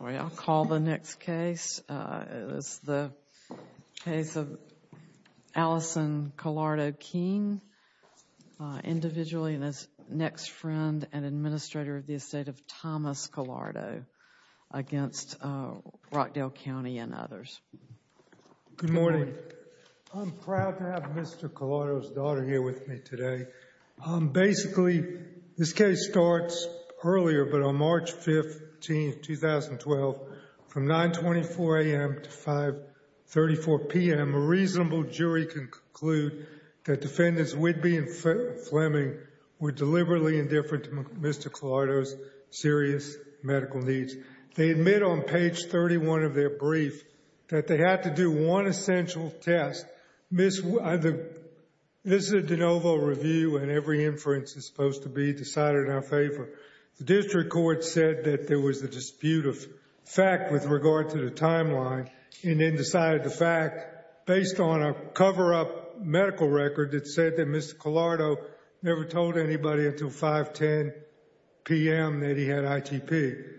Sorry, I'll call the next case. It is the case of Allison Colardo-Keen, individually and as next friend and administrator of the estate of Thomas Colardo against Rockdale County and others. Good morning. I'm proud to have Mr. Colardo's daughter here with me today. Basically, this case starts earlier, but on March 15, 2012, from 924 a.m. to 534 p.m., a reasonable jury can conclude that defendants Whidbey and Fleming were deliberately indifferent to Mr. Colardo's serious medical needs. They admit on page 31 of their brief that they had to do one essential test. This is a de novo review and every inference is supposed to be decided in our favor. The district court said that there was a dispute of fact with regard to the timeline and then decided the fact based on a cover-up medical record that said that Mr. Colardo never told anybody until 510 p.m. that he had ITP.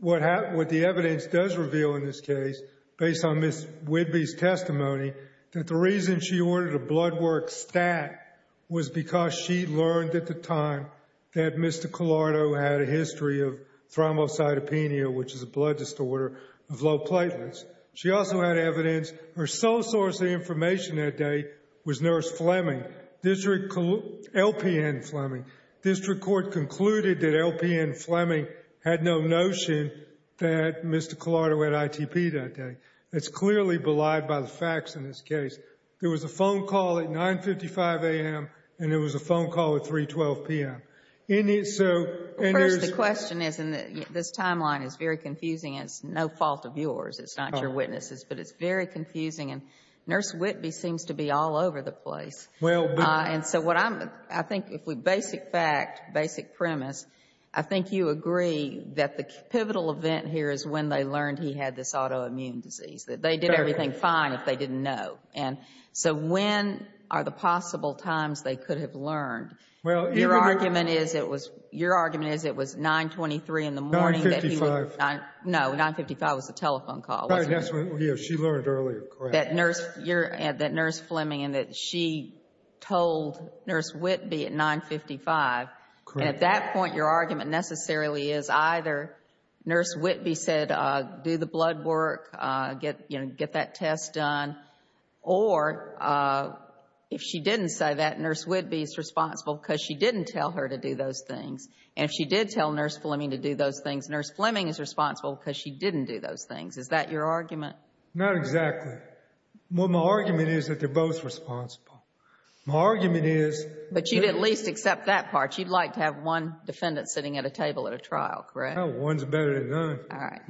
What the evidence does reveal in this case, based on Ms. Whidbey's testimony, that the reason she ordered a blood work stat was because she learned at the time that Mr. Colardo had a history of thrombocytopenia, which is a blood disorder of low platelets. She also had evidence her sole source of information that day was Nurse Fleming, District Court, LPN Fleming. District Court concluded that LPN Fleming had no notion that Mr. Colardo had ITP that day. That's clearly belied by the facts in this case. There was a phone call at 955 a.m. and there was a phone call at 312 p.m. In it, so, and there's First, the question is, and this timeline is very confusing, and it's no fault of yours, it's not your witnesses, but it's very confusing, and Nurse Whidbey seems to be all over the place. Well, but And so what I'm, I think if we, basic fact, basic premise, I think you agree that the pivotal event here is when they learned he had this autoimmune disease, that they did everything fine if they didn't know. And so when are the possible times they could have learned? Well, even Your argument is it was, your argument is it was 923 in the morning that he 955 No, 955 was the telephone call, wasn't it? Yes, she learned earlier, correct. That Nurse, that Nurse Fleming, and that she told Nurse Whidbey at 955 Correct. And at that point, your argument necessarily is either Nurse Whidbey said, do the blood work, get, you know, get that test done, or if she didn't say that, Nurse Whidbey is responsible because she didn't tell her to do those things. And if she did tell Nurse Fleming to do those things, Nurse Fleming is responsible because she didn't do those things. Is that your argument? Not exactly. Well, my argument is that they're both responsible. My argument is But you'd at least accept that part. You'd like to have one defendant sitting at a table at a trial, correct? No, one's better than none. All right.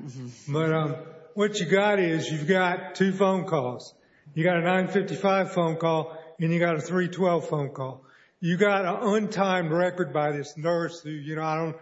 But what you got is, you've got two phone calls. You got a 955 phone call, and you got a 312 phone call. You got an untimed record by this nurse who, you know, I don't,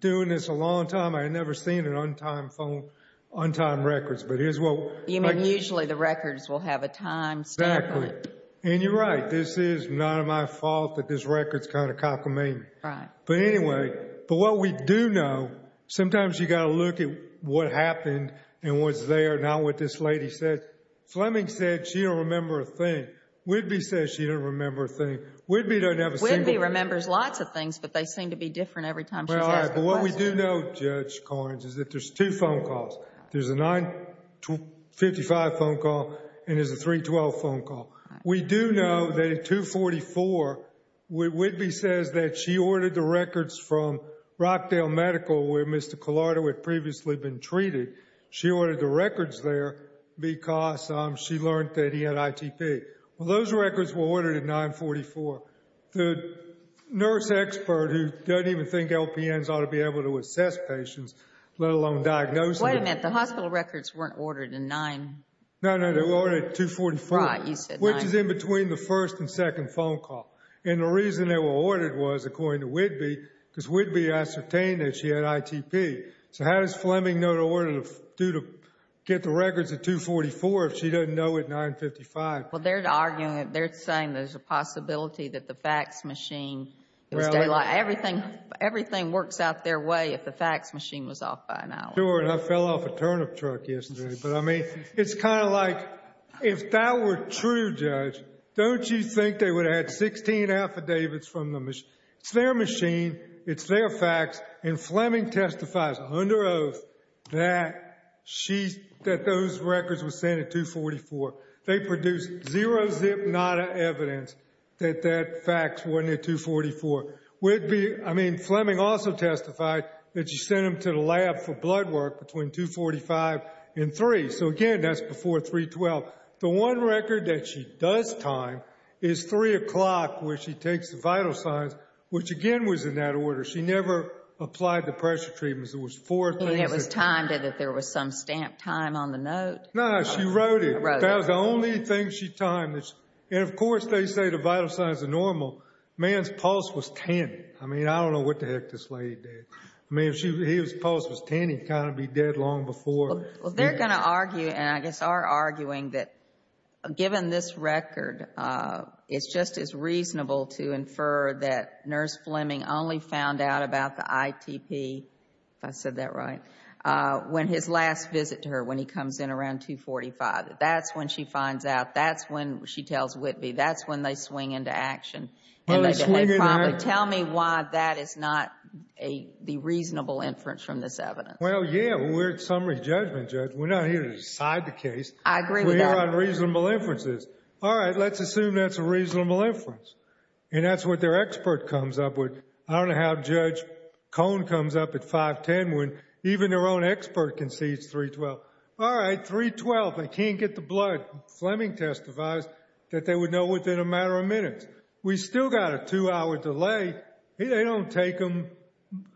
doing this a long time, I had never seen an untimed phone, untimed records. But here's what You mean usually the records will have a time stamp on it. Exactly. And you're right. This is not my fault that this record's kind of cockamamie. Right. But anyway, but what we do know, sometimes you got to look at what happened and what's there, not what this lady said. Fleming said she don't remember a thing. Whidbey says she don't remember a thing. Whidbey doesn't have a single thing. Whidbey remembers lots of things, but they seem to be different every time she's asked But what we do know, Judge Corns, is that there's two phone calls. There's a 955 phone call, and there's a 312 phone call. We do know that at 244, Whidbey says that she ordered the records from Rockdale Medical, where Mr. Collardo had previously been treated. She ordered the records there because she learned that he had ITP. Well, those records were to be able to assess patients, let alone diagnose them. Wait a minute. The hospital records weren't ordered in 9... No, no. They were ordered at 244. Right. You said 9... Which is in between the first and second phone call. And the reason they were ordered was, according to Whidbey, because Whidbey ascertained that she had ITP. So how does Fleming know to order to get the records at 244 if she doesn't know at 955? Well, they're arguing, they're saying there's a possibility that the fax machine is daylight. Everything works out their way if the fax machine was off by an hour. Sure, and I fell off a turnip truck yesterday. But I mean, it's kind of like, if that were true, Judge, don't you think they would have had 16 affidavits from the machine? It's their machine, it's their fax, and Fleming testifies under oath that those records were sent at 244. Whidbey, I mean, Fleming also testified that she sent them to the lab for blood work between 245 and 3. So again, that's before 312. The one record that she does time is 3 o'clock, where she takes the vital signs, which again was in that order. She never applied the pressure treatments. There was four things... And it was timed and that there was some stamped time on the note? No, she wrote it. That was the only thing she timed. And of course, they say the vital signs are normal. The man's pulse was 10. I mean, I don't know what the heck this lady did. I mean, if his pulse was 10, he'd kind of be dead long before... Well, they're going to argue, and I guess are arguing, that given this record, it's just as reasonable to infer that Nurse Fleming only found out about the ITP, if I said that right, when his last visit to her, when he comes in around 245. That's when she finds Whitby. That's when they swing into action. Oh, they swing into action? Tell me why that is not the reasonable inference from this evidence. Well, yeah, we're at summary judgment, Judge. We're not here to decide the case. I agree with that. We're here on reasonable inferences. All right, let's assume that's a reasonable inference. And that's what their expert comes up with. I don't know how Judge Cohn comes up at 510 when even their own expert concedes 312. All right, 312, they can't get the blood. Fleming testifies that they would know within a matter of minutes. We still got a two-hour delay. They don't take them.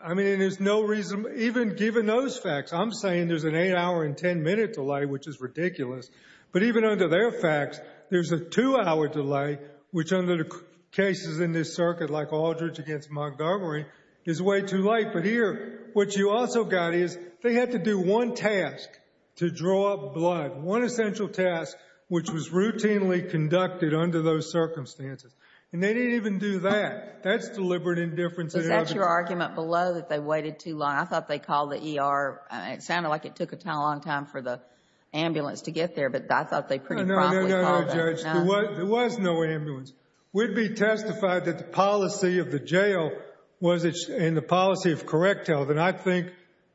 I mean, there's no reason, even given those facts, I'm saying there's an eight-hour and ten-minute delay, which is ridiculous. But even under their facts, there's a two-hour delay, which under the cases in this circuit, like Aldridge against Montgomery, is way too late. But here, what you also got is they had to do one task to draw blood, one essential task, which was routinely conducted under those circumstances. And they didn't even do that. That's deliberate indifference. Is that your argument below, that they waited too long? I thought they called the ER. It sounded like it took a long time for the ambulance to get there, but I thought they pretty promptly called it. No, no, no, no, Judge. There was no ambulance. We'd be testified that the policy of the jail was in the policy of correct health. And I think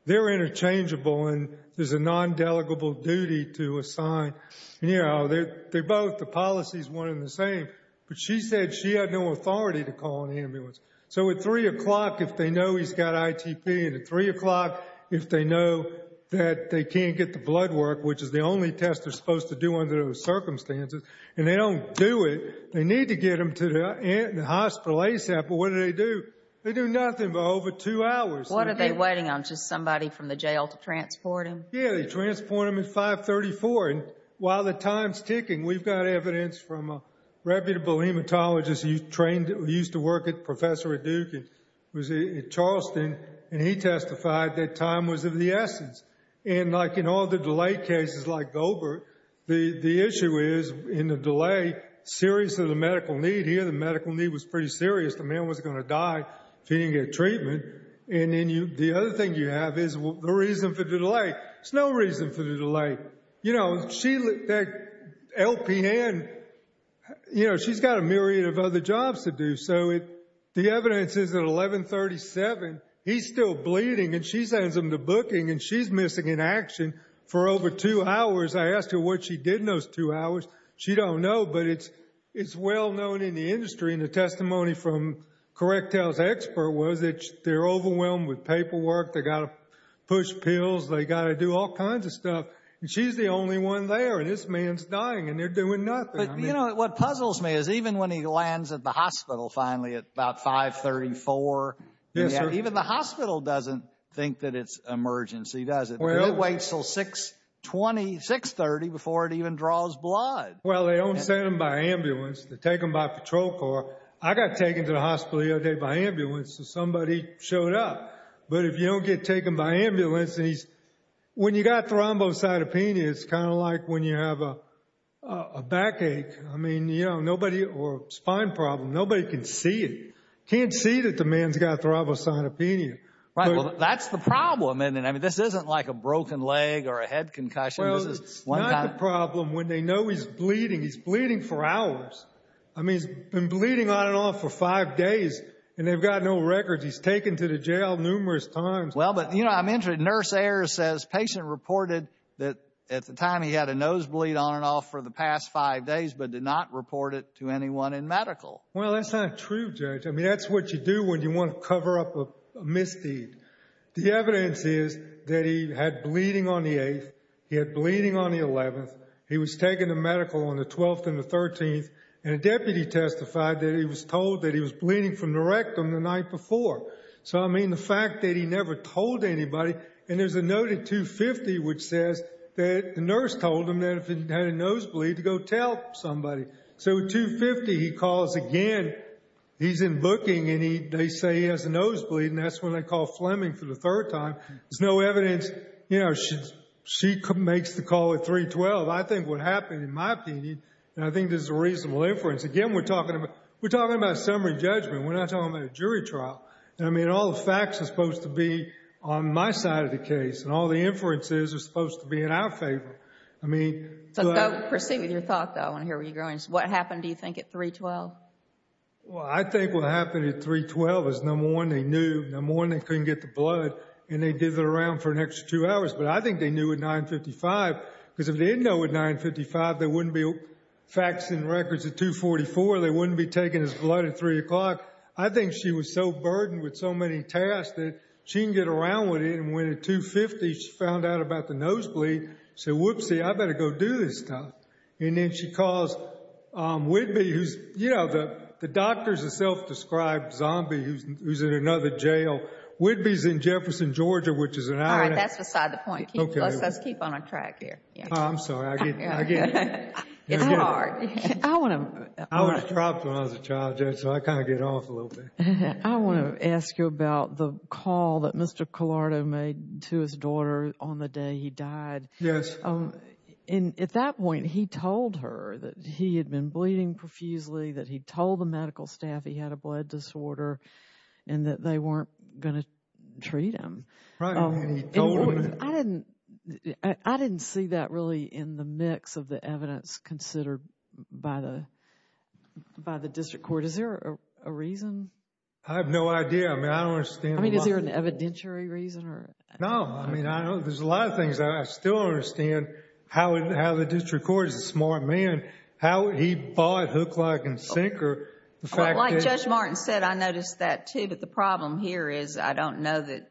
they're interchangeable, and there's a nondelegable duty to assign. You know, they're both. The policy's one and the same. But she said she had no authority to call an ambulance. So at 3 o'clock, if they know he's got ITP, and at 3 o'clock, if they know that they can't get the blood work, which is the only test they're supposed to do under those circumstances, and they don't do it, they need to get him to the hospital ASAP. But what do they do? They do nothing but over two hours. What are they waiting on? Just somebody from the jail to transport him? Yeah, they transport him at 534. And while the time's ticking, we've got evidence from a reputable hematologist. He used to work at the Professor at Duke. He was at Charleston, and he testified that time was of the essence. And like in all the delay cases like Goldberg, the issue is in the delay, the seriousness of the medical need here, the medical need was pretty serious. The man was going to die if he didn't get treatment. And then the other thing you have is the reason for the delay. There's no reason for the delay. You know, that LPN, you know, she's got a myriad of other jobs to do. So the evidence is at 1137, he's still bleeding, and she sends him to booking, and she's missing in action for over two hours. I asked her what she did in those two hours. And the testimony from Correct Health's expert was that they're overwhelmed with paperwork, they've got to push pills, they've got to do all kinds of stuff. And she's the only one there, and this man's dying, and they're doing nothing. You know, what puzzles me is even when he lands at the hospital finally at about 534, even the hospital doesn't think that it's an emergency, does it? It waits until 630 before it even draws blood. Well, they don't send him by ambulance. They take him by patrol car. I got taken to the hospital the other day by ambulance, so somebody showed up. But if you don't get taken by ambulance and he's... When you've got thrombocytopenia, it's kind of like when you have a backache. I mean, you know, nobody, or spine problem, nobody can see it. Can't see that the man's got thrombocytopenia. Right, well, that's the problem. I mean, this isn't like a broken leg or a head concussion. Well, it's not the problem when they know he's bleeding. He's bleeding for hours. I mean, he's been bleeding on and off for five days, and they've got no records. He's taken to the jail numerous times. Well, but, you know, I'm interested. Nurse Ayers says patient reported that at the time he had a nosebleed on and off for the past five days, but did not report it to anyone in medical. Well, that's not true, Judge. I mean, that's what you do when you want to cover up a misdeed. The evidence is that he had bleeding on the 8th. He had bleeding on the 11th. He was taken to medical on the 12th and the 13th, and a deputy testified that he was told that he was bleeding from the rectum the night before. So, I mean, the fact that he never told anybody, and there's a note at 250 which says that the nurse told him that if he had a nosebleed, to go tell somebody. So at 250, he calls again. He's in booking, and they say he has a nosebleed, and that's when they call Fleming for the third time. There's no evidence. She makes the call at 312. I think what happened, in my opinion, and I think there's a reasonable inference. Again, we're talking about summary judgment. We're not talking about a jury trial. I mean, all the facts are supposed to be on my side of the case, and all the inferences are supposed to be in our favor. Proceed with your thought, though. I want to hear what you're going to say. What happened, do you think, at 312? Well, I think what happened at 312 is, number one, they knew. Number one, they couldn't get the blood, and they did it around for an extra two hours, but I think they knew at 955, because if they didn't know at 955, they wouldn't be faxing records at 244. They wouldn't be taking his blood at 3 o'clock. I think she was so burdened with so many tasks that she didn't get around with it, and when at 250, she found out about the nosebleed, said, whoopsie, I better go do this stuff. And then she calls Whitby, who's, you know, the doctor's a self-described zombie who's in another jail. Whitby's in Jefferson, Georgia, which is an island. All right, that's beside the point. Let's keep on our track here. I'm sorry, I get it. It's hard. I was dropped when I was a child, so I kind of get off a little bit. I want to ask you about the call that Mr. Collardo made to his daughter on the day he died. Yes. And at that point, he told her that he had been bleeding profusely, that he told the medical staff he had a blood disorder and that they weren't going to treat him. Right. I didn't see that really in the mix of the evidence considered by the district court. Is there a reason? I have no idea. I mean, is there an evidentiary reason? No, I mean, there's a lot of things that I still don't understand how the district court, as a smart man, how he bought hook, lock, and sinker. Like Judge Martin said, I noticed that too, but the problem here is I don't know that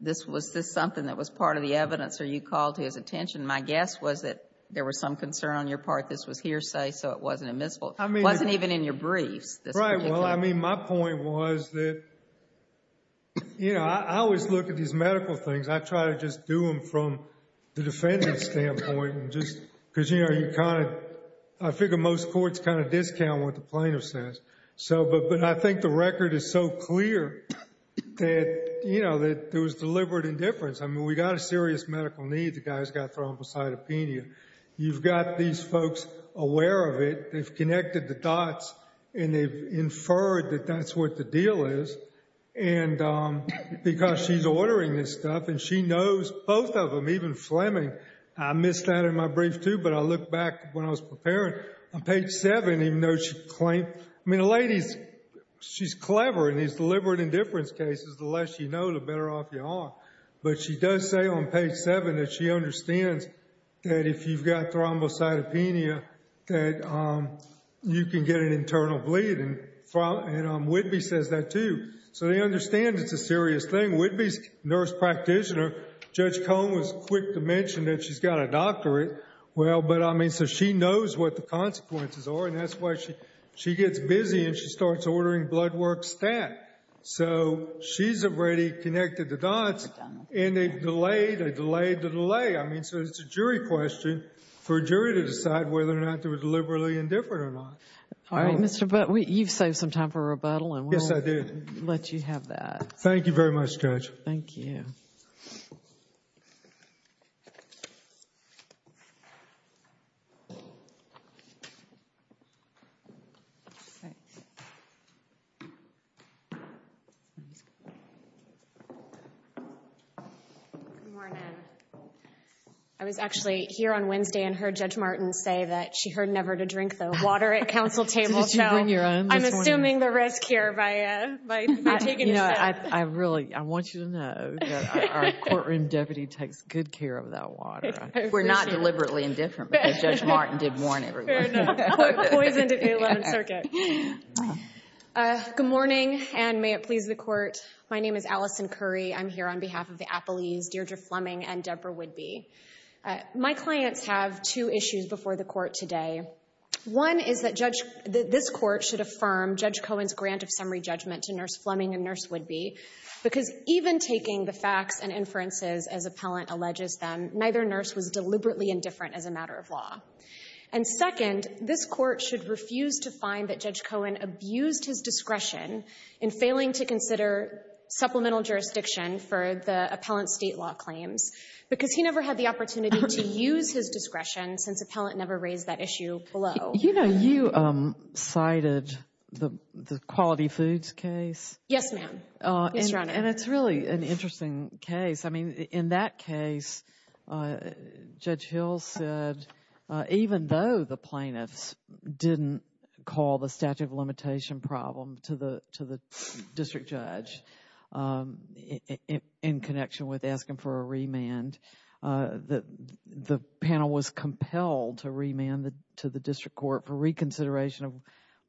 this was something that was part of the evidence or you called his attention. My guess was that there was some concern on your part, this was hearsay, so it wasn't admissible. It wasn't even in your briefs. Right, well, I mean, my point was that I always look at these medical things. I try to just do them from the defendant's standpoint because, you know, I figure most courts kind of discount what the plaintiff says. But I think the record is so clear that there was deliberate indifference. I mean, we got a serious medical need. The guy's got thrombocytopenia. You've got these folks aware of it. They've connected the dots and they've inferred that that's what the deal is because she's ordering this stuff and she knows both of them, even Fleming. I missed that in my brief, too, but I looked back when I was preparing. On page 7, even though she claimed I mean, the lady's, she's clever in these deliberate indifference cases. The less you know, the better off you are. But she does say on page 7 that she understands that if you've got thrombocytopenia that you can get an internal bleed and Whitby says that, too. So they understand it's a serious thing. Even Whitby's nurse practitioner, Judge Cone was quick to mention that she's got a doctorate. Well, but I mean, so she knows what the consequences are and that's why she gets busy and she starts ordering blood work stat. So she's already connected the dots and they've delayed, they've delayed the delay. I mean, so it's a jury question for a jury to decide whether or not they were deliberately indifferent or not. All right, Mr. Butt, you've saved some time for rebuttal and we'll let you have that. Thank you very much, Judge. Thank you. Good morning. I was actually here on Wednesday and heard Judge Martin say that she heard never to drink the water at counsel tables. I'm assuming the risk here by taking a sip. I really, I want you to know that our courtroom deputy takes good care of that water. We're not deliberately indifferent because Judge Martin did warn everyone. Poisoned at the 11th circuit. Good morning and may it please the court. My name is Allison Curry. I'm here on behalf of the Appleys, Deirdre Fleming, and Deborah Whitby. My clients have two issues before the court today. One is that this court should affirm Judge Cohen's grant of summary judgment to Nurse Fleming and Nurse Whitby because even taking the facts and inferences as appellant alleges them, neither nurse was deliberately indifferent as a matter of law. And second, this court should refuse to find that Judge Cohen abused his discretion in failing to consider supplemental jurisdiction for the appellant's state law claims because he never had the opportunity to use his discretion since appellant never raised that issue below. You know, you cited the quality foods case. Yes, ma'am. And it's really an interesting case. I mean, in that case Judge Hill said even though the plaintiffs didn't call the statute of limitation problem to the district judge in connection with asking for a remand, the panel was compelled to remand to the district court for reconsideration of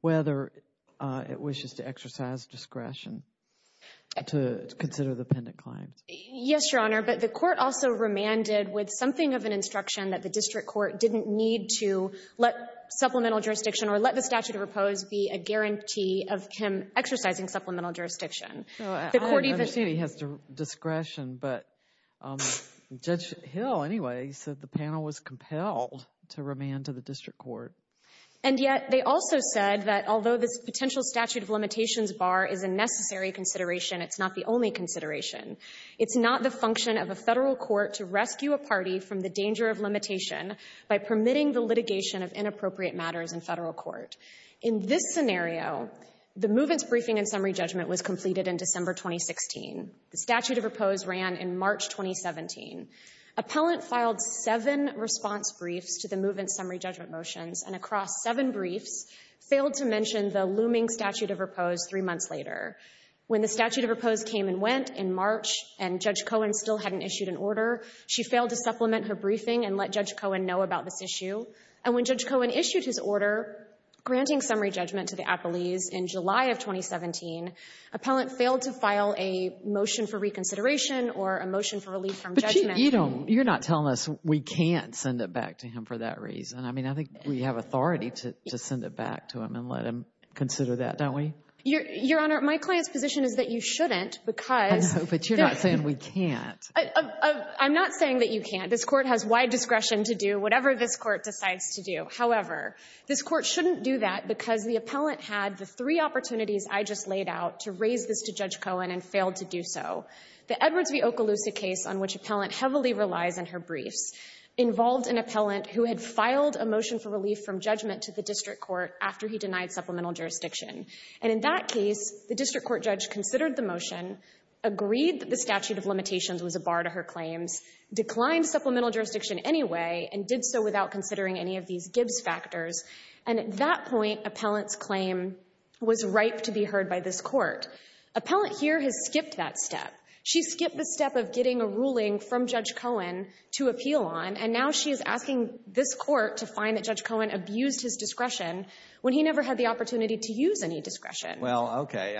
whether it wishes to exercise discretion to consider the appendant claims. Yes, Your Honor, but the court also remanded with something of an instruction that the district court didn't need to let supplemental jurisdiction or let the statute of repose be a guarantee of him exercising supplemental jurisdiction. I understand he has discretion, but Judge Hill, anyway, said the panel was compelled to remand to the district court. And yet, they also said that although this potential statute of limitations bar is a necessary consideration, it's not the only consideration. It's not the function of a federal court to rescue a party from the danger of limitation by permitting the litigation of inappropriate matters in federal court. In this scenario, the movement's briefing and summary judgment was completed in December 2016. The statute of repose ran in March 2017. Appellant filed seven response briefs to the movement's summary judgment motions, and across seven briefs, failed to mention the looming statute of repose three months later. When the statute of repose came and went in March, and Judge Cohen still hadn't issued an order, she failed to supplement her briefing and let Judge Cohen know about this issue. And when Judge Cohen issued his order granting summary judgment to the appellees in July of 2017, appellant failed to file a motion for reconsideration or a motion for relief from judgment. But you don't, you're not telling us we can't send it back to him for that reason. I mean, I think we have authority to send it back to him and let him consider that, don't we? Your Honor, my client's position is that you shouldn't because... But you're not saying we can't. I'm not saying that you can't. This Court has wide discretion to do whatever this Court decides to do. However, this Court shouldn't do that because the appellant had the three opportunities I just laid out to raise this to Judge Cohen and failed to do so. The Edwards v. Okaloosa case on which appellant heavily relies on her briefs involved an appellant who had filed a motion for relief from judgment to the district court after he denied supplemental jurisdiction. And in that case, the district court judge considered the motion, agreed that the statute of limitations was a bar to her claims, declined supplemental jurisdiction anyway, and did so without considering any of these Gibbs factors. And at that point, appellant's claim was ripe to be heard by this Court. Appellant here has skipped that step. She skipped the step of getting a ruling from Judge Cohen to appeal on, and now she is asking this Court to find that Judge Cohen abused his discretion when he never had the opportunity to use any discretion. Well, okay.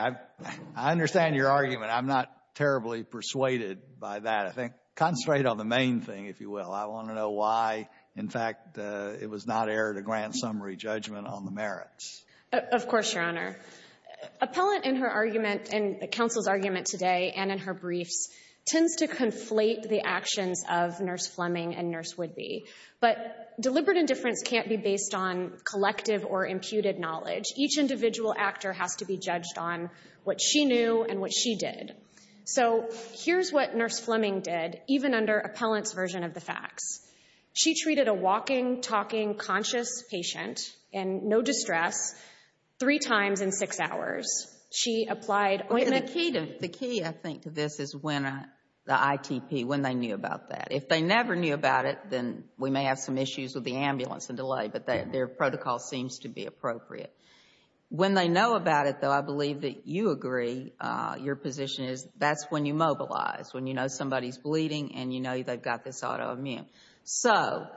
I understand your argument. I'm not terribly persuaded by that. I think concentrate on the main thing, if you will. I want to know why, in fact, it was not aired a grand summary judgment on the merits. Of course, Your Honor. Appellant, in her argument and the counsel's argument today and in her briefs, tends to conflate the actions of Nurse Fleming and Nurse Whidbey. But deliberate indifference can't be based on collective or imputed knowledge. Each individual actor has to be judged on what she knew and what she did. So here's what Nurse Fleming did, even under appellant's version of the facts. She treated a walking, talking, conscious patient in no distress three times in six hours. She applied ointment... The key, I think, to this is when the ITP, when they knew about that. If they never knew about it, then we may have some issues with the ambulance and delay, but their protocol seems to be appropriate. When they know about it, though, I believe that you agree your position is that's when you mobilize, when you know somebody's bleeding and you know they've got this autoimmune. So,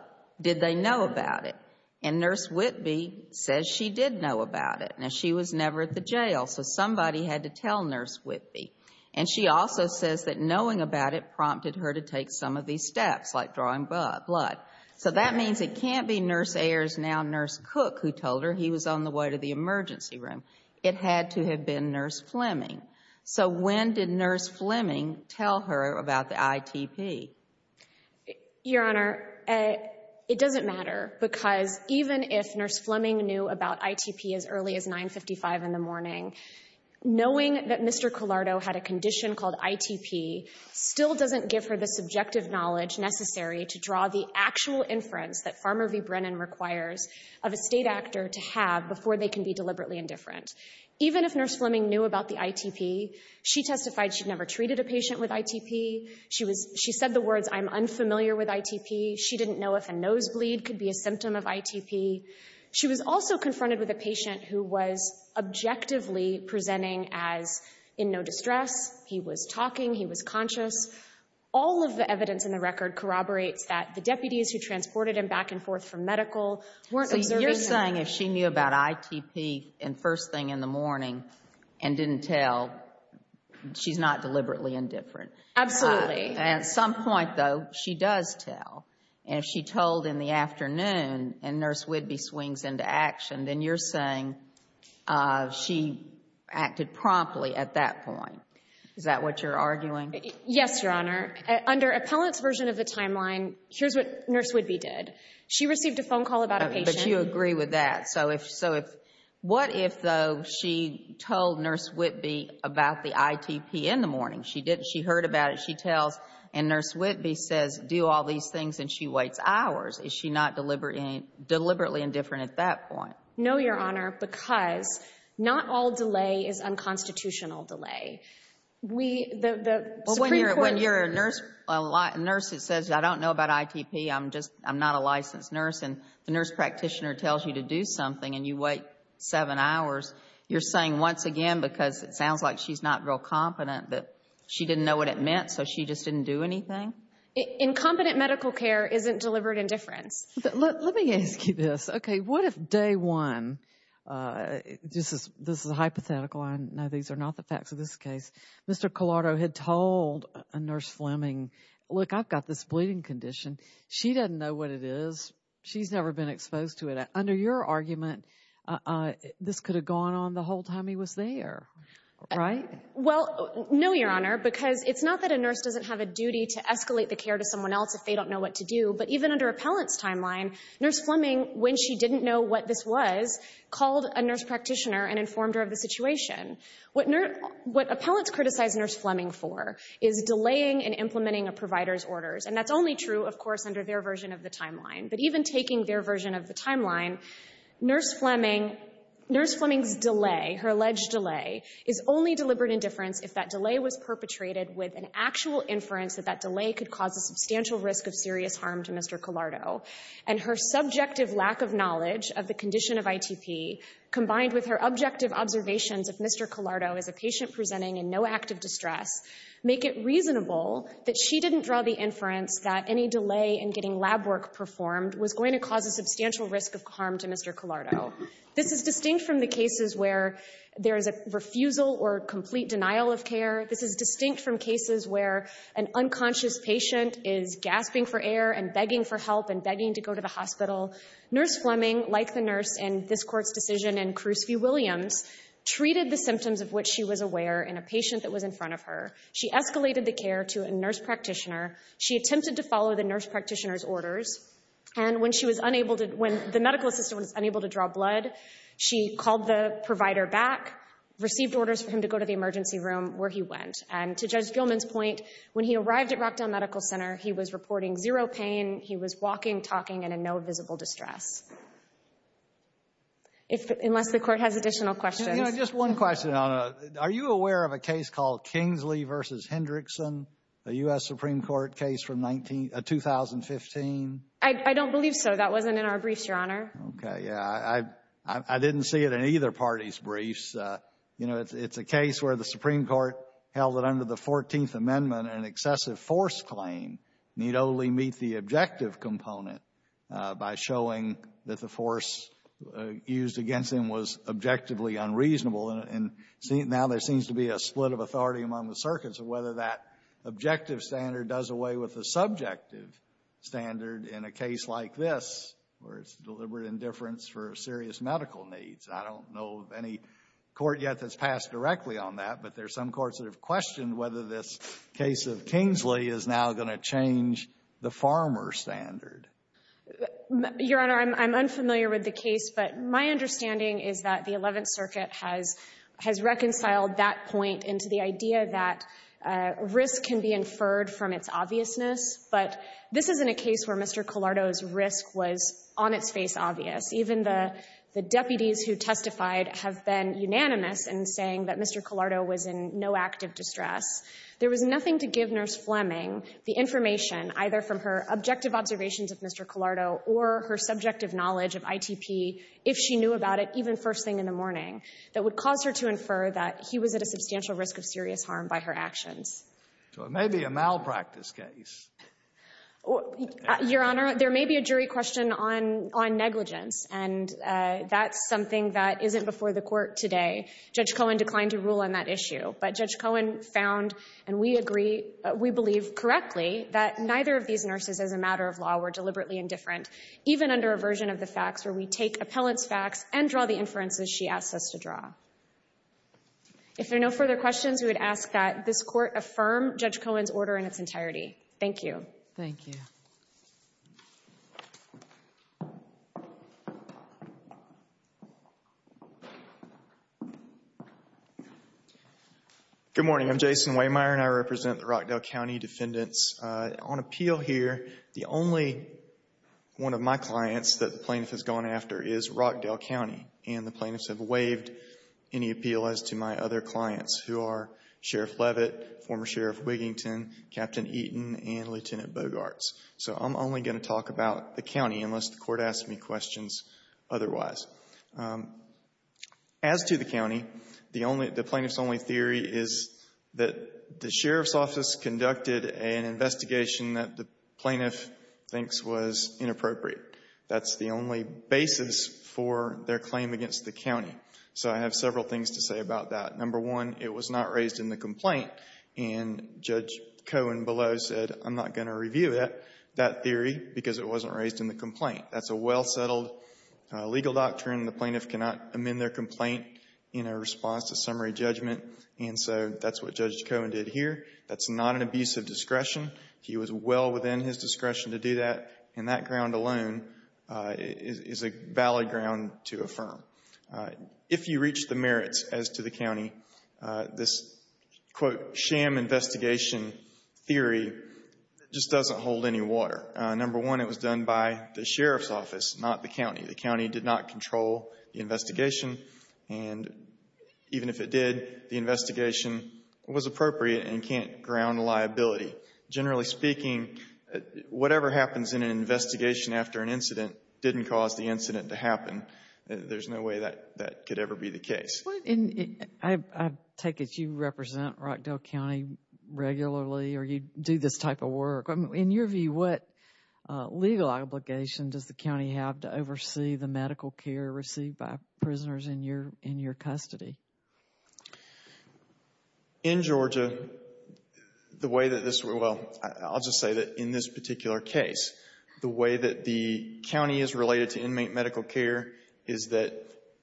did they know about it? And Nurse Whidbey says she did know about it. Now, she was never at the jail, so somebody had to tell Nurse Whidbey. And she also says that knowing about it prompted her to take some of these steps, like drawing blood. So that means it can't be Nurse Ayers, now Nurse Cook, who told her he was on the way to the emergency room. It had to have been Nurse Fleming. So when did Nurse Fleming tell her about the ITP? Your Honor, it doesn't matter, because even if Nurse Fleming knew about ITP as early as 9.55 in the morning, knowing that Mr. Collardo had a condition called ITP still doesn't give her the subjective knowledge necessary to draw the actual inference that Farmer v. Brennan requires of a state actor to have before they can be deliberately indifferent. Even if Nurse Fleming knew about the ITP, she testified she'd never treated a patient with ITP. She said the words, I'm unfamiliar with ITP. She didn't know if a nosebleed could be a symptom of ITP. She was also confronted with a patient who was objectively presenting as in no distress. He was talking. He was conscious. All of the evidence in the record corroborates that the deputies who transported him back and forth from medical weren't observing him. So you're saying if she knew about ITP first thing in the morning and didn't tell, she's not deliberately indifferent. Absolutely. At some point, though, she does tell. If she told in the afternoon and Nurse Whidbey swings into action, then you're saying she acted promptly at that point. Is that what you're arguing? Yes, Your Honor. Under Appellant's version of the timeline, here's what Nurse Whidbey did. She received a phone call about a patient. But you agree with that. What if, though, she told Nurse Whidbey about the ITP in the morning? She heard about it. She tells, and Nurse Whidbey says, do all these things and she waits hours. Is she not deliberately indifferent at that point? No, Your Honor, because not all delay is unconstitutional delay. When you're a nurse that says, I don't know about ITP. I'm not a licensed nurse. The nurse practitioner tells you to do something and you wait seven hours. You're saying, once again, because it sounds like she's not real competent, that she didn't know what it meant, so she just didn't do anything? Incompetent medical care isn't deliberate indifference. Let me ask you this. What if day one, this is hypothetical, I know these are not the facts of this case, Mr. Collardo had told Nurse Fleming, look, I've got this bleeding condition. She doesn't know what it is. She's never been exposed to it. Under your argument, this could have gone on the whole time he was there. Right? No, Your Honor, because it's not that a nurse doesn't have a duty to escalate the care to someone else if they don't know what to do, but even under Appellant's timeline, Nurse Fleming, when she didn't know what this was, called a nurse practitioner and informed her of the situation. What Appellants criticize Nurse Fleming for is delaying and implementing a provider's orders, and that's only true, of course, under their version of the timeline. But even taking their version of the timeline, Nurse Fleming, Nurse Fleming's delay, her alleged delay, is only deliberate indifference if that delay was perpetrated with an actual inference that that delay could cause a substantial risk of serious harm to Mr. Collardo, and her subjective lack of knowledge of the condition of ITP, combined with her objective observations of Mr. Collardo as a specialist, make it reasonable that she didn't draw the inference that any delay in getting lab work performed was going to cause a substantial risk of harm to Mr. Collardo. This is distinct from the cases where there is a refusal or complete denial of care. This is distinct from cases where an unconscious patient is gasping for air and begging for help and begging to go to the hospital. Nurse Fleming, like the nurse in this Court's decision and Carus V. Williams, treated the symptoms of which she was aware in a patient that was in front of her. She escalated the care to a nurse practitioner. She attempted to follow the nurse practitioner's orders and when she was unable to, when the medical assistant was unable to draw blood, she called the provider back, received orders for him to go to the emergency room where he went, and to Judge Gilman's point, when he arrived at Rockdale Medical Center, he was reporting zero pain, he was walking, talking, and in no visible distress. Unless the Court has additional questions. Just one question. Are you aware of a case called Kingsley v. Hendrickson, a U.S. Supreme Court case from 2015? I don't believe so. That wasn't in our briefs, Your Honor. I didn't see it in either party's briefs. It's a case where the Supreme Court held that under the 14th Amendment an excessive force claim need only meet the objective component by showing that the force used against him was objectively unreasonable. And now there seems to be a split of authority among the circuits of whether that objective standard does away with the subjective standard in a case like this where it's deliberate indifference for serious medical needs. I don't know of any court yet that's passed directly on that, but there's some courts that have questioned whether this case of Kingsley is now going to change the farmer standard. Your Honor, I'm understanding is that the Eleventh Circuit has reconciled that point into the idea that risk can be inferred from its obviousness, but this isn't a case where Mr. Collardo's risk was on its face obvious. Even the deputies who testified have been unanimous in saying that Mr. Collardo was in no active distress. There was nothing to give Nurse Fleming the information either from her objective observations of Mr. Collardo or her subjective knowledge of ITP if she knew about it even first thing in the morning that would cause her to infer that he was at a substantial risk of serious harm by her actions. So it may be a malpractice case. Your Honor, there may be a jury question on negligence, and that's something that isn't before the Court today. Judge Cohen declined to rule on that issue, but Judge Cohen found, and we agree we believe correctly, that neither of these nurses as a matter of law were negligent of the facts where we take appellant's facts and draw the inferences she asks us to draw. If there are no further questions, we would ask that this Court affirm Judge Cohen's order in its entirety. Thank you. Thank you. Good morning. I'm Jason Waymire, and I represent the Rockdale County Defendants. On appeal here, the plaintiff has gone after is Rockdale County, and the plaintiffs have waived any appeal as to my other clients who are Sheriff Leavitt, former Sheriff Wigington, Captain Eaton, and Lieutenant Bogarts. So I'm only going to talk about the county unless the Court asks me questions otherwise. As to the county, the plaintiff's only theory is that the Sheriff's Office conducted an investigation that the plaintiff thinks was inappropriate. That's the only basis for their claim against the county. So I have several things to say about that. Number one, it was not raised in the complaint, and Judge Cohen below said, I'm not going to review that theory because it wasn't raised in the complaint. That's a well-settled legal doctrine. The plaintiff cannot amend their complaint in a response to summary judgment, and so that's what Judge Cohen did here. That's not an abuse of discretion. He was well within his discretion to do that, and that ground alone is a valid ground to affirm. If you reach the merits as to the county, this quote, sham investigation theory just doesn't hold any water. Number one, it was done by the Sheriff's Office, not the county. The county did not control the investigation, and even if it did, the investigation was appropriate and we can't ground liability. Generally speaking, whatever happens in an investigation after an incident didn't cause the incident to happen. There's no way that could ever be the case. I take it you represent Rockdale County regularly, or you do this type of work. In your view, what legal obligation does the county have to oversee the medical care received by prisoners in your custody? In Georgia, the way that this, well, I'll just say that in this particular case, the way that the county is related to inmate medical care is that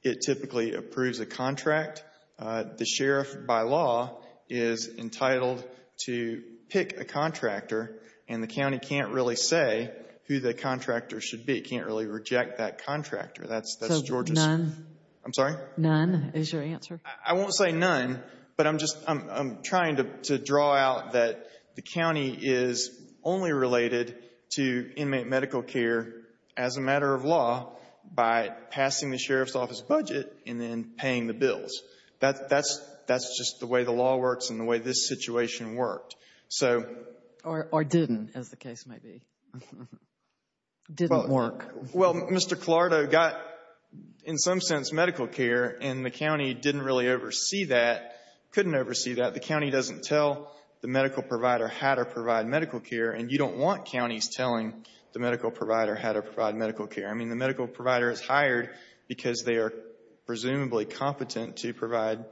it typically approves a contract. The sheriff by law is entitled to pick a contractor, and the county can't really say who the contractor should be. It can't really reject that contractor. That's Georgia's... I won't say none, but I'm trying to draw out that the county is only related to inmate medical care as a matter of law by passing the sheriff's office budget and then paying the bills. That's just the way the law works and the way this situation worked. So... Or didn't, as the case may be. Didn't work. Well, Mr. Clardo got, in some sense, medical care, and the county didn't really oversee that, couldn't oversee that. The county doesn't tell the medical provider how to provide medical care, and you don't want counties telling the medical provider how to provide medical care. I mean, the medical provider is hired because they are presumably competent to provide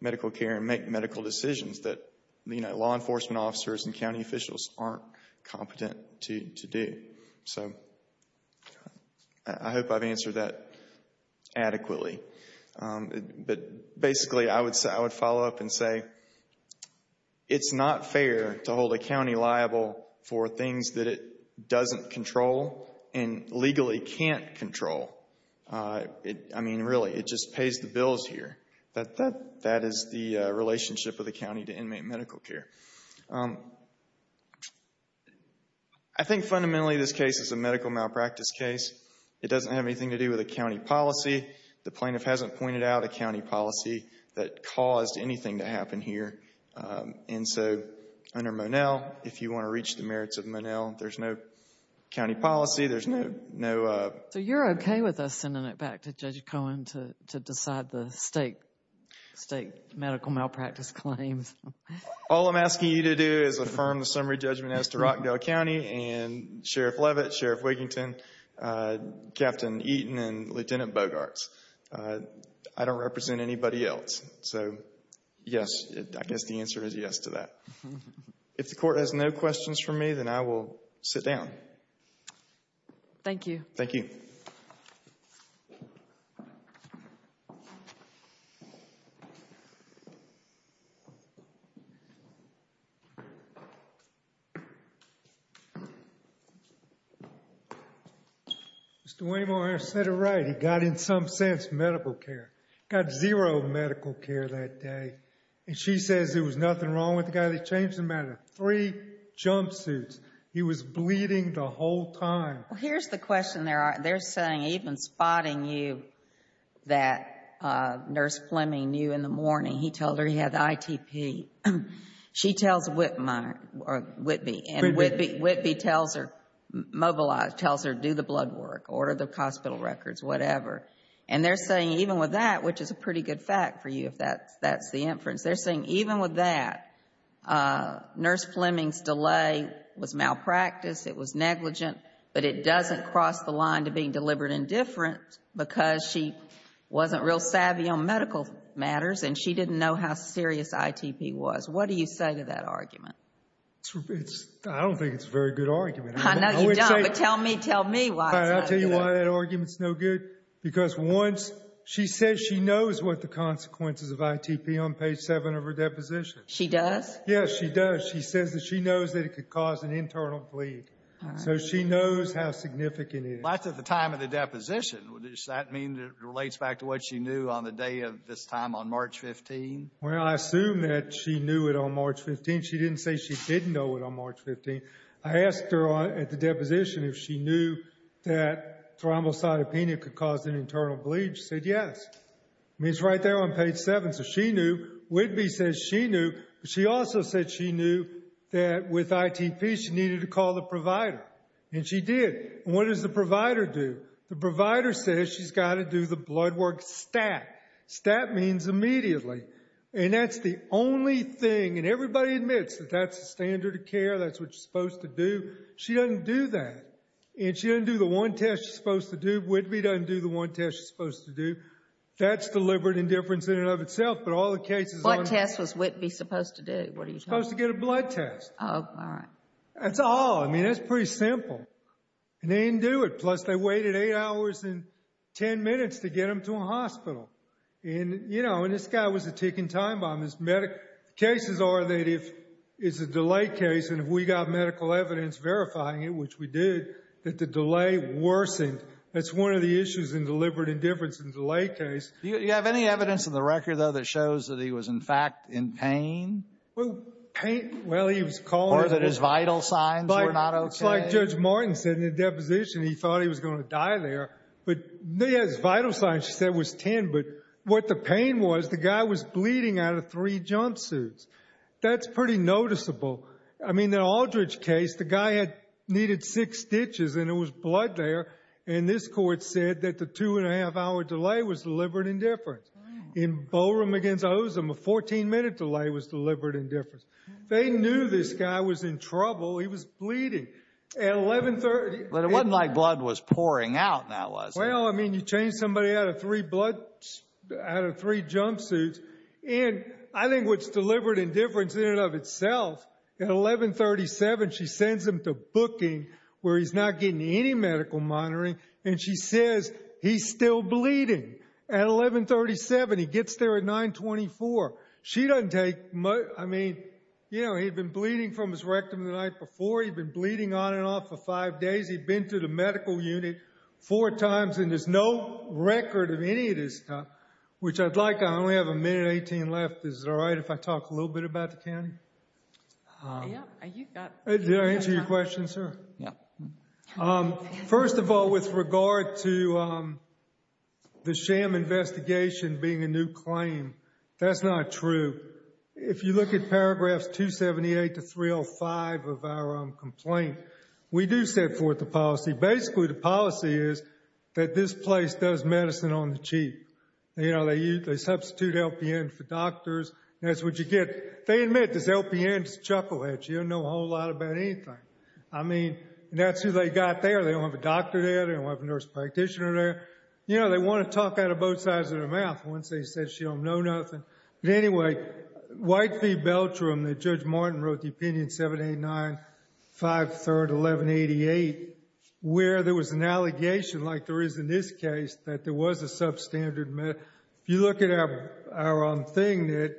medical care and make medical decisions that law enforcement officers and county officials aren't competent to do. So... I hope I've answered that adequately. But, basically, I would follow up and say it's not fair to hold a county liable for things that it doesn't control and legally can't control. I mean, really, it just pays the bills here. That is the relationship of the county to inmate medical care. I think fundamentally this case is a medical malpractice case. It doesn't have anything to do with a county policy. The plaintiff hasn't pointed out a county policy that caused anything to happen here. And so, under Monell, if you want to reach the merits of Monell, there's no county policy, there's no... So you're okay with us sending it back to Judge Cohen to decide the state medical malpractice claims? All I'm asking you to do is affirm the summary judgment as to Rockdale County and Sheriff Leavitt, Sheriff Wigington, Captain Eaton, and Lieutenant Bogarts. I don't represent anybody else. So, yes, I guess the answer is yes to that. If the court has no questions for me, then I will sit down. Thank you. Mr. Waymore, I said it right. He got in some sense medical care. Got zero medical care that day. And she says there was nothing wrong with the guy. They changed him out of three jumpsuits. He was bleeding the whole time. Here's the question they're saying. Even spotting you that Nurse Fleming knew in the morning, he told her he had ITP. She tells Whitby. Whitby tells her do the blood work, order the hospital records, whatever. And they're saying even with that, which is a pretty good fact for you if that's the inference, they're saying even with that Nurse Fleming's delay was malpractice, it was negligent, but it doesn't cross the line to being deliberate and different because she wasn't real savvy on medical matters and she didn't know how serious ITP was. What do you say to that argument? I don't think it's a very good argument. I know you don't, but tell me why it's not good. I'll tell you why that argument's no good. Because once she says she knows what the consequences of ITP are on page 7 of her deposition. She does? Yes, she does. She says that she knows that it could cause an internal bleed. So she knows how significant it is. That's at the time of the deposition. Does that mean it relates back to what she knew on the day of this time on March 15? Well, I assume that she knew it on March 15. She didn't say she didn't know it on March 15. I asked her at the deposition if she knew that thrombocytopenia could cause an internal bleed. She said yes. I mean, it's right there on page 7. So she knew. Whitby says she knew, but she also said she knew that with ITP she needed to call the provider. And she did. And what does the provider do? The provider says she's got to do the blood work stat. Stat means immediately. And that's the only thing. And everybody admits that that's the standard of care. That's what you're supposed to do. She doesn't do that. And she doesn't do the one test she's supposed to do. Whitby doesn't do the one test she's supposed to do. That's deliberate indifference in and of itself, but all the cases... What test was Whitby supposed to do? Supposed to get a blood test. That's all. I mean, that's pretty simple. And they didn't do it. Plus, they waited 8 hours and 10 minutes to get him to a hospital. And, you know, and this guy was a ticking time bomb. The cases are that if it's a delay case, and if we got medical evidence verifying it, which we did, that the delay worsened. That's one of the issues in deliberate indifference in a delay case. Do you have any evidence in the record, though, that shows that he was in fact in pain? Well, he was calling... Or that his vital signs were not okay? It's like Judge Martin said in the deposition. He thought he was going to die there. But his vital signs, she said, was 10. But what the pain was, the guy was bleeding out of 3 jumpsuits. That's pretty noticeable. I mean, the Aldridge case, the guy had needed 6 stitches, and there was blood there. And this Court said that the 2 1⁄2 hour delay was deliberate indifference. In Boerum against Ozem, a 14 minute delay was deliberate indifference. They knew this guy was in trouble. He was bleeding. At 1130... But it wasn't like blood was pouring out, now, was it? Well, I mean, you change somebody out of 3 blood... out of 3 jumpsuits, and I think what's deliberate indifference in and of itself, at 1137 she sends him to booking where he's not getting any medical monitoring, and she says he's still bleeding. At 1137, he gets there at 924. She doesn't take... I mean, you know, he'd been bleeding from his rectum the night before. He'd been bleeding on and off for 5 days. He'd been to the medical unit 4 times, and there's no record of any of this stuff, which I'd like. I only have a minute 18 left. Is it all right if I talk a little bit about the county? Did I answer your question, sir? Yeah. First of all, with regard to the sham investigation being a new claim, that's not true. If you look at paragraphs 278 to 305 of our complaint, we do set forth a policy. Basically, the policy is that this place does medicine on the cheap. They substitute LPN for doctors, and that's what you get. They admit this LPN is a chucklehead. She doesn't know a whole lot about anything. I mean, that's who they got there. They don't have a doctor there. They don't have a nurse practitioner there. You know, they want to talk out of both sides of their mouth once they say she don't know nothing. But anyway, White v. Beltram, Judge Martin wrote the opinion 789 5 3rd 1188, where there was an allegation, like there is in this case, that there was a substandard medicine. If you look at our thing,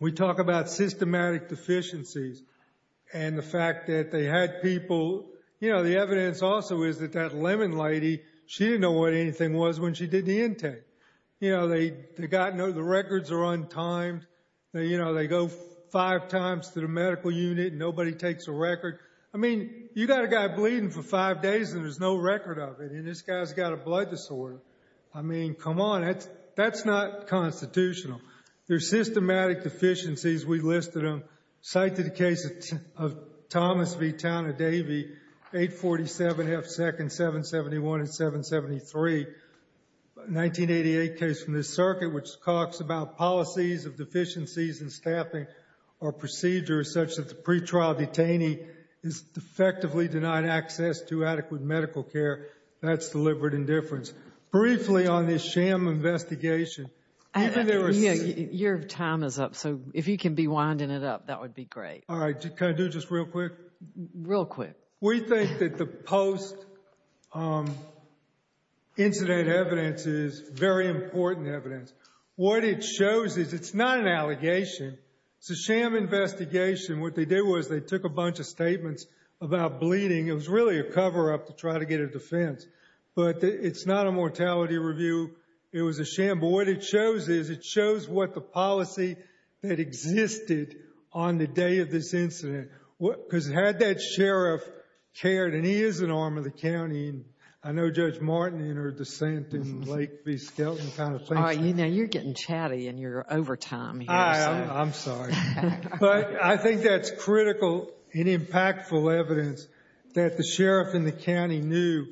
we talk about systematic deficiencies and the fact that they had people. You know, the evidence also is that that Lemon lady, she didn't know what anything was when she did the intake. You know, the records are untimed. You know, they go five times to the medical unit and nobody takes a record. I mean, you got a guy bleeding for five days and there's no record of it, and this guy's got a blood disorder. I mean, come on. That's not constitutional. They're systematic deficiencies. We listed them. Cite the case of Thomas v. Town of Davie, 847 F 2nd 771 773. 1988 case from the circuit which talks about policies of deficiencies in staffing or procedures such that the pretrial detainee is effectively denied access to adequate medical care. That's deliberate indifference. Briefly on this sham investigation. Your time is up, so if you can be winding it up, that would be great. All right. Can I do just real quick? Real quick. We think that the post- incident evidence is very important evidence. What it shows is it's not an allegation. It's a sham investigation. What they did was they took a bunch of statements about bleeding. It was really a cover-up to try to get a defense, but it's not a mortality review. It was a sham, but what it shows is it shows what the policy that existed on the day of this incident. Because had that been an arm of the county, I know Judge Martin and her dissent in Lake v. Skelton kind of thing. You're getting chatty in your overtime here. I'm sorry. I think that's critical and impactful evidence that the sheriff in the county knew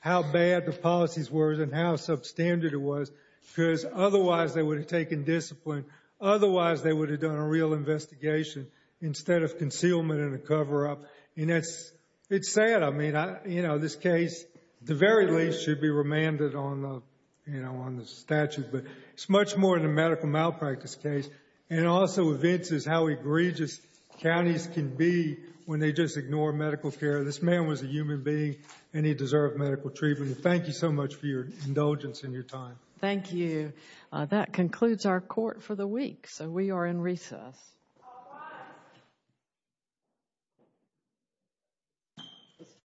how bad the policies were and how substandard it was because otherwise they would have taken discipline. Otherwise they would have done a real investigation instead of concealment and a cover-up. It's sad. This case, at the very least, should be remanded on the statute, but it's much more than a medical malpractice case. It also evinces how egregious counties can be when they just ignore medical care. This man was a human being and he deserved medical treatment. Thank you so much for your indulgence and your time. Thank you. That concludes our court for the week, so we are in recess. Thank you.